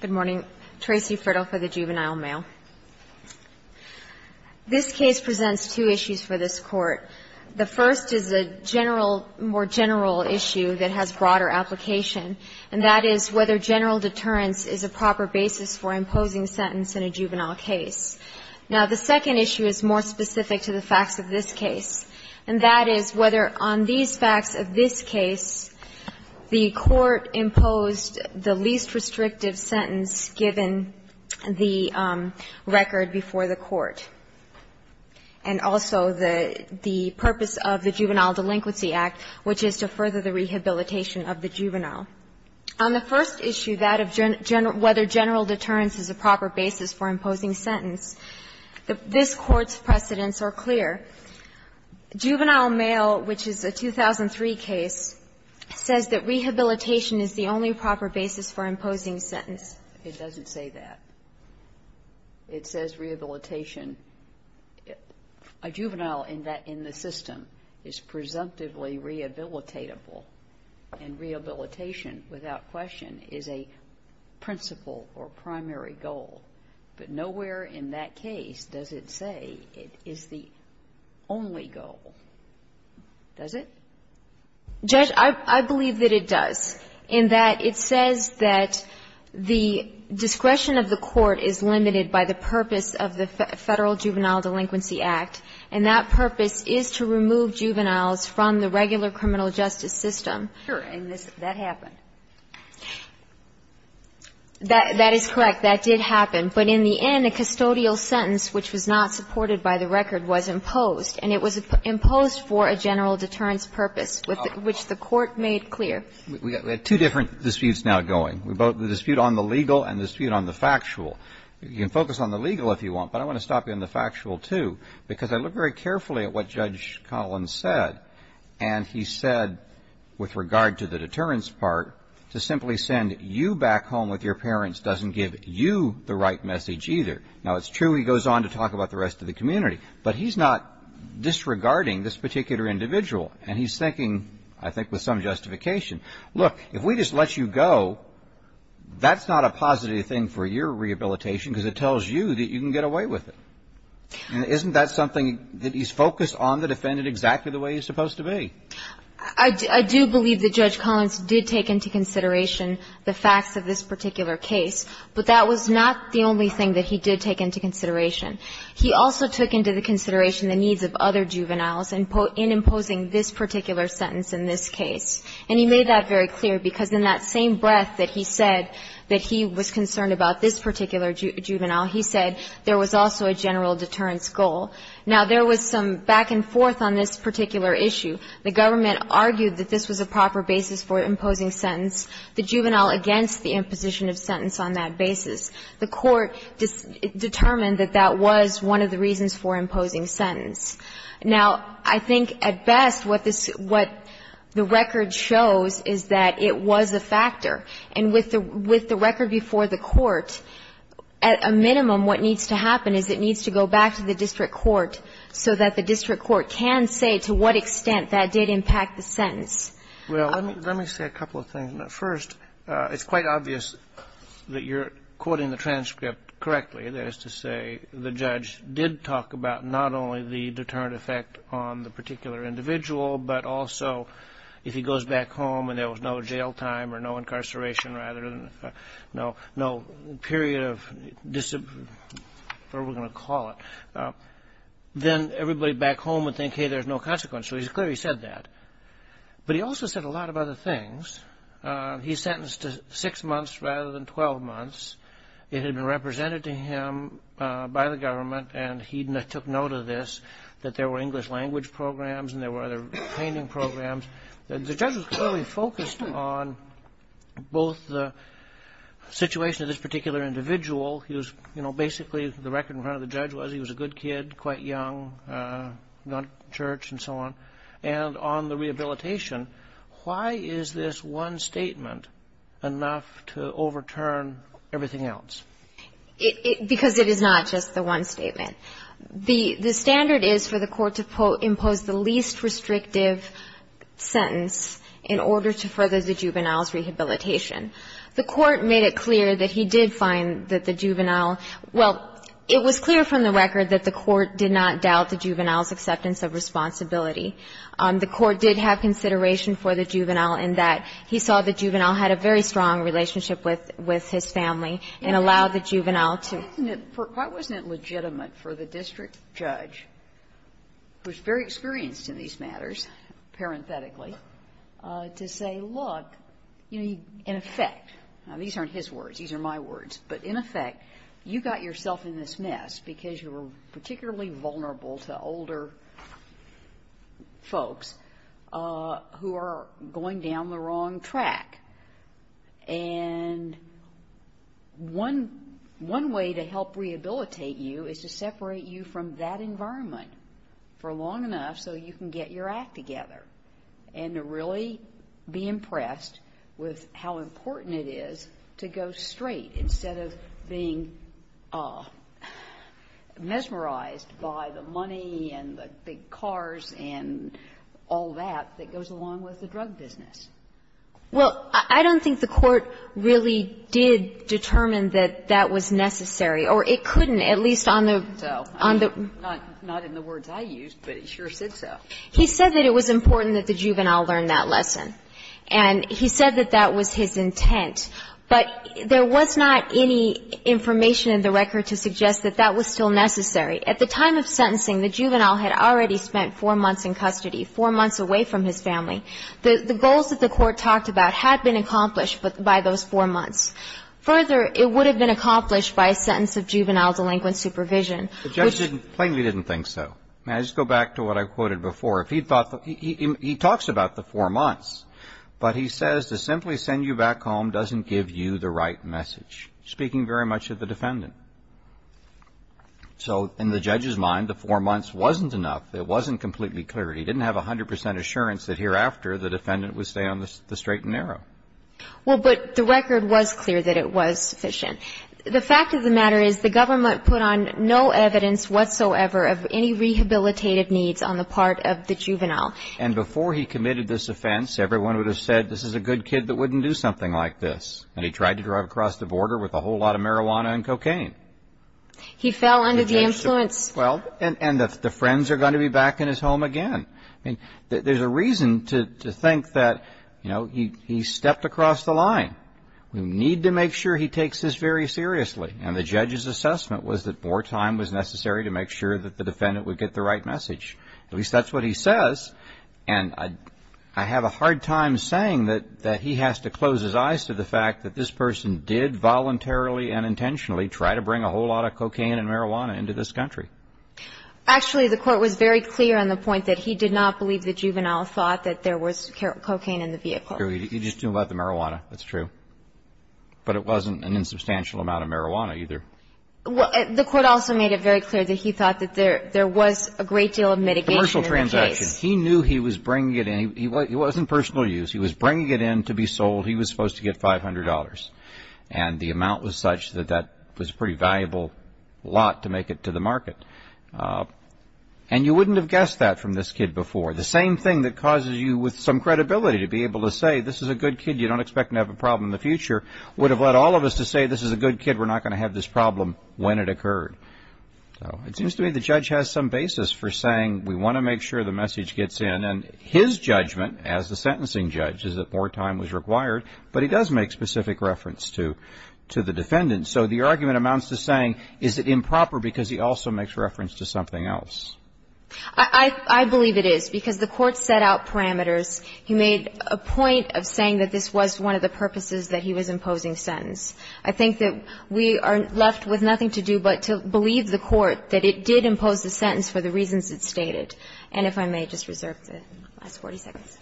Good morning. Tracy Frittle for the Juvenile Mail. This case presents two issues for this Court. The first is a general, more general issue that has broader application, and that is whether general deterrence is a proper basis for imposing sentence in a juvenile case. Now, the second issue is more specific to the facts of this case, and that is whether on these facts of this case, the Court imposed the least restrictive sentence given the record before the Court, and also the purpose of the Juvenile Delinquency Act, which is to further the rehabilitation of the juvenile. On the first issue, that of whether general deterrence is a proper basis for imposing sentence, this Court's precedents are clear. Juvenile Mail, which is a 2003 case, says that rehabilitation is the only proper basis for imposing sentence. It doesn't say that. It says rehabilitation. A juvenile in the system is presumptively rehabilitatable, and rehabilitation, without question, is a principal or primary goal. But nowhere in that case does it say it is the only goal. Does it? Judge, I believe that it does, in that it says that the discretion of the Court is limited by the purpose of the Federal Juvenile Delinquency Act, and that purpose is to remove juveniles from the regular criminal justice system. Sure. And that happened. That is correct. That did happen. But in the end, a custodial sentence, which was not supported by the record, was imposed, and it was imposed for a general deterrence purpose, which the Court made clear. We have two different disputes now going, the dispute on the legal and the dispute on the factual. You can focus on the legal if you want, but I want to stop you on the factual, too, because I looked very carefully at what Judge Collins said, and he said, with regard to the deterrence part, to simply send you back home with your parents doesn't give you the right message, either. Now, it's true he goes on to talk about the rest of the community, but he's not disregarding this particular individual, and he's thinking, I think, with some justification, look, if we just let you go, that's not a positive thing for your rehabilitation because it tells you that you can get away with it. And isn't that something that he's focused on the defendant exactly the way he's supposed to be? I do believe that Judge Collins did take into consideration the facts of this particular case, but that was not the only thing that he did take into consideration. He also took into the consideration the needs of other juveniles in imposing this particular sentence in this case, and he made that very clear because in that same breath that he said that he was concerned about this particular juvenile, he said there was also a general deterrence goal. Now, there was some back and forth on this particular issue. The government argued that this was a proper basis for imposing sentence, the juvenile against the imposition of sentence on that basis. The Court determined that that was one of the reasons for imposing sentence. Now, I think at best what the record shows is that it was a factor. And with the record before the Court, at a minimum what needs to happen is it needs to go back to the district court so that the district court can say to what extent that did impact the sentence. Well, let me say a couple of things. First, it's quite obvious that you're quoting the transcript correctly. That is to say the judge did talk about not only the deterrent effect on the particular individual, but also if he goes back home and there was no jail time or no incarceration rather than no period of, whatever we're going to call it, then everybody back home would think, hey, there's no consequence. So he clearly said that. But he also said a lot of other things. He sentenced to six months rather than 12 months. It had been represented to him by the government, and he took note of this, that there were English language programs and there were other training programs. And the judge was clearly focused on both the situation of this particular individual. He was, you know, basically the record in front of the judge was he was a good kid, quite young, gone to church and so on, and on the rehabilitation. Why is this one statement enough to overturn everything else? Because it is not just the one statement. The standard is for the court to impose the least restrictive sentence in order to further the juvenile's rehabilitation. The court made it clear that he did find that the juvenile – well, it was clear from the record that the court did not doubt the juvenile's acceptance of responsibility. The court did have consideration for the juvenile in that he saw the juvenile had a very strong relationship with his family and allowed the juvenile to – Why isn't it – why wasn't it legitimate for the district judge, who is very experienced in these matters, parenthetically, to say, look, you know, in effect – now, these aren't his words, these are my words – but in effect, you got yourself in this mess because you were particularly vulnerable to older folks who are going down the wrong track. And one way to help rehabilitate you is to separate you from that environment for long enough so you can get your act together and to really be impressed with how important it is to go straight instead of being mesmerized by the money and the big cars and all that stuff that goes along with the drug business. Well, I don't think the court really did determine that that was necessary. Or it couldn't, at least on the – on the – Not in the words I used, but it sure said so. He said that it was important that the juvenile learn that lesson. And he said that that was his intent. But there was not any information in the record to suggest that that was still necessary. At the time of sentencing, the juvenile had already spent four months in custody, four months away from his family. The goals that the court talked about had been accomplished by those four months. Further, it would have been accomplished by a sentence of juvenile delinquent supervision. The judge plainly didn't think so. And I just go back to what I quoted before. If he thought – he talks about the four months, but he says to simply send you back home doesn't give you the right message, speaking very much of the defendant. So in the judge's mind, the four months wasn't enough. It wasn't completely clear. He didn't have 100 percent assurance that hereafter the defendant would stay on the straight and narrow. Well, but the record was clear that it was sufficient. The fact of the matter is the government put on no evidence whatsoever of any rehabilitative needs on the part of the juvenile. And before he committed this offense, everyone would have said, this is a good kid that wouldn't do something like this. And he tried to drive across the border with a whole lot of marijuana and cocaine. He fell under the influence. Well, and the friends are going to be back in his home again. I mean, there's a reason to think that, you know, he stepped across the line. We need to make sure he takes this very seriously. And the judge's assessment was that more time was necessary to make sure that the defendant would get the right message. At least that's what he says. And I have a hard time saying that he has to close his eyes to the fact that this person did voluntarily and intentionally try to bring a whole lot of cocaine and marijuana into this country. Actually, the court was very clear on the point that he did not believe the juvenile thought that there was cocaine in the vehicle. You're just talking about the marijuana. That's true. But it wasn't an insubstantial amount of marijuana either. The court also made it very clear that he thought that there was a great deal of mitigation in the case. Commercial transactions. He knew he was bringing it in. It wasn't personal use. He was bringing it in to be sold. He was supposed to get $500. And the amount was such that that was a pretty valuable lot to make it to the market. And you wouldn't have guessed that from this kid before. The same thing that causes you with some credibility to be able to say this is a good kid, you don't expect to have a problem in the future, would have led all of us to say this is a good kid, we're not going to have this problem when it occurred. So it seems to me the judge has some basis for saying we want to make sure the message gets in. And his judgment as the sentencing judge is that more time was required, but he does make specific reference to the defendant. So the argument amounts to saying is it improper because he also makes reference to something else? I believe it is because the court set out parameters. He made a point of saying that this was one of the purposes that he was imposing sentence. I think that we are left with nothing to do but to believe the court that it did impose the sentence for the reasons it stated. And if I may just reserve the last 40 seconds.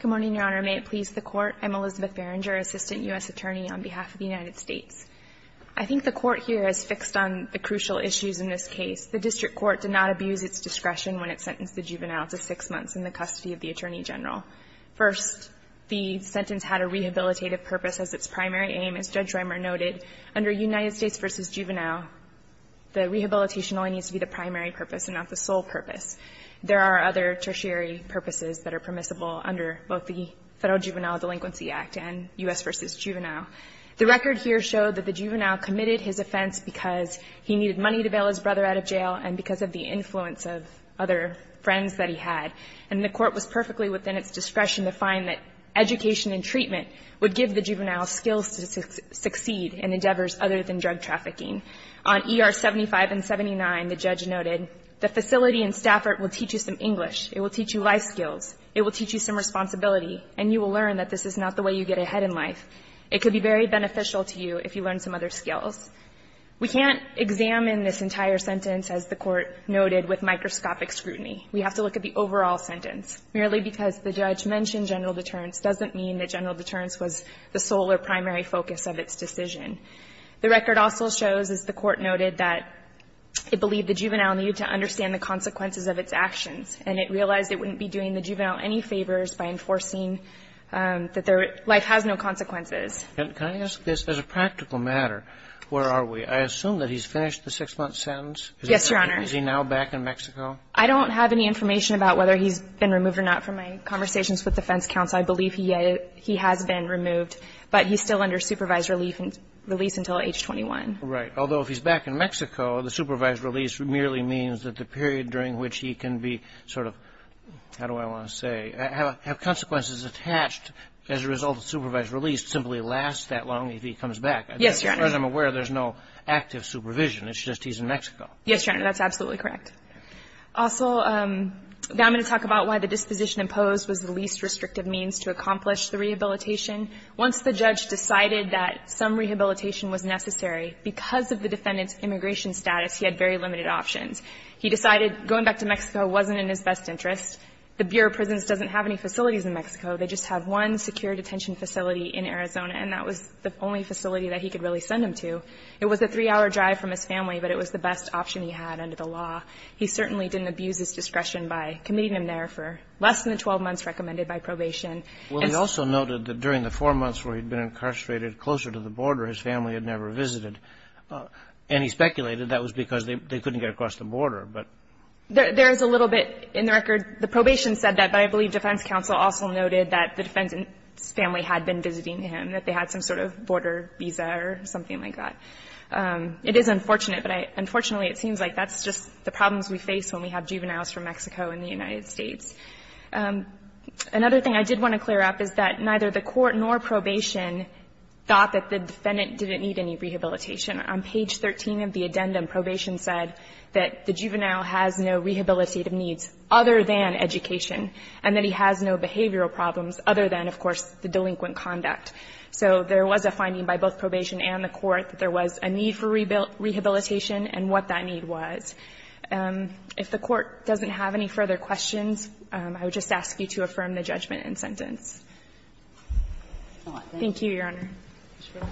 Good morning, Your Honor. May it please the Court. I'm Elizabeth Berenger, Assistant U.S. Attorney on behalf of the United States. I think the Court here has fixed on the crucial issues in this case. The district court did not abuse its discretion when it sentenced the juvenile to six months in the custody of the Attorney General. First, the sentence had a rehabilitative purpose as its primary aim. As Judge Schremer noted, under United States v. Juvenile, the rehabilitation only needs to be the primary purpose and not the sole purpose. There are other tertiary purposes that are permissible under both the Federal Juvenile Delinquency Act and U.S. v. Juvenile. The record here showed that the juvenile committed his offense because he needed money to bail his brother out of jail and because of the influence of other friends that he had. And the Court was perfectly within its discretion to find that education and treatment would give the juvenile skills to succeed in endeavors other than drug trafficking. On ER 75 and 79, the judge noted, the facility in Stafford will teach you some English. It will teach you life skills. It will teach you some responsibility. And you will learn that this is not the way you get ahead in life. It could be very beneficial to you if you learn some other skills. We can't examine this entire sentence, as the Court noted, with microscopic scrutiny. We have to look at the overall sentence. Merely because the judge mentioned general deterrence doesn't mean that general deterrence was the sole or primary focus of its decision. The record also shows, as the Court noted, that it believed the juvenile needed to understand the consequences of its actions, and it realized it wouldn't be doing the juvenile any favors by enforcing that their life has no consequences. Can I ask this as a practical matter? Where are we? I assume that he's finished the six-month sentence. Yes, Your Honor. Is he now back in Mexico? I don't have any information about whether he's been removed or not from my conversations with the defense counsel. I believe he has been removed, but he's still under supervised release until age 21. Right. Although, if he's back in Mexico, the supervised release merely means that the period during which he can be sort of, how do I want to say, have consequences attached as a result of supervised release simply lasts that long if he comes back. Yes, Your Honor. As far as I'm aware, there's no active supervision. It's just he's in Mexico. Yes, Your Honor. That's absolutely correct. Also, now I'm going to talk about why the disposition imposed was the least restrictive means to accomplish the rehabilitation. Once the judge decided that some rehabilitation was necessary, because of the defendant's immigration status, he had very limited options. He decided going back to Mexico wasn't in his best interest. The Bureau of Prisons doesn't have any facilities in Mexico. They just have one secure detention facility in Arizona, and that was the only facility that he could really send him to. It was a three-hour drive from his family, but it was the best option he had under the law. He certainly didn't abuse his discretion by committing him there for less than the 12 months recommended by probation. Well, he also noted that during the four months where he'd been incarcerated closer to the border, his family had never visited. And he speculated that was because they couldn't get across the border. There is a little bit in the record. The probation said that, but I believe defense counsel also noted that the defendant's family had been visiting him, that they had some sort of border visa or something like that. It is unfortunate, but unfortunately it seems like that's just the problems we face when we have juveniles from Mexico and the United States. Another thing I did want to clear up is that neither the court nor probation thought that the defendant didn't need any rehabilitation. On page 13 of the addendum, probation said that the juvenile has no rehabilitative needs other than education, and that he has no behavioral problems other than, of course, the delinquent conduct. So there was a finding by both probation and the court that there was a need for rehabilitation and what that need was. If the Court doesn't have any further questions, I would just ask you to affirm the judgment in sentence. Thank you, Your Honor. Ms. Rosenberg.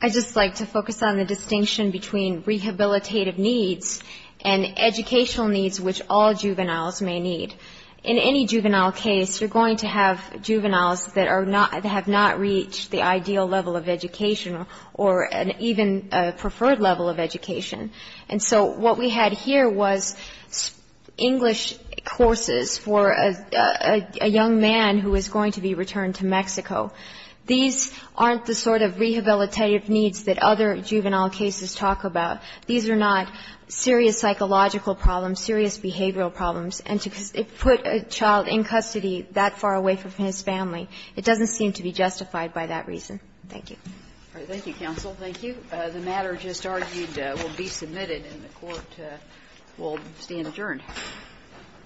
I'd just like to focus on the distinction between rehabilitative needs and educational needs, which all juveniles may need. In any juvenile case, you're going to have juveniles that are not, that have not reached the ideal level of education or an even preferred level of education. And so what we had here was English courses for a young man who is going to be returned to Mexico. These aren't the sort of rehabilitative needs that other juvenile cases talk about. These are not serious psychological problems, serious behavioral problems. And to put a child in custody that far away from his family, it doesn't seem to be justified by that reason. Thank you. Thank you, counsel. Thank you. The matter just argued will be submitted, and the Court will stand adjourned.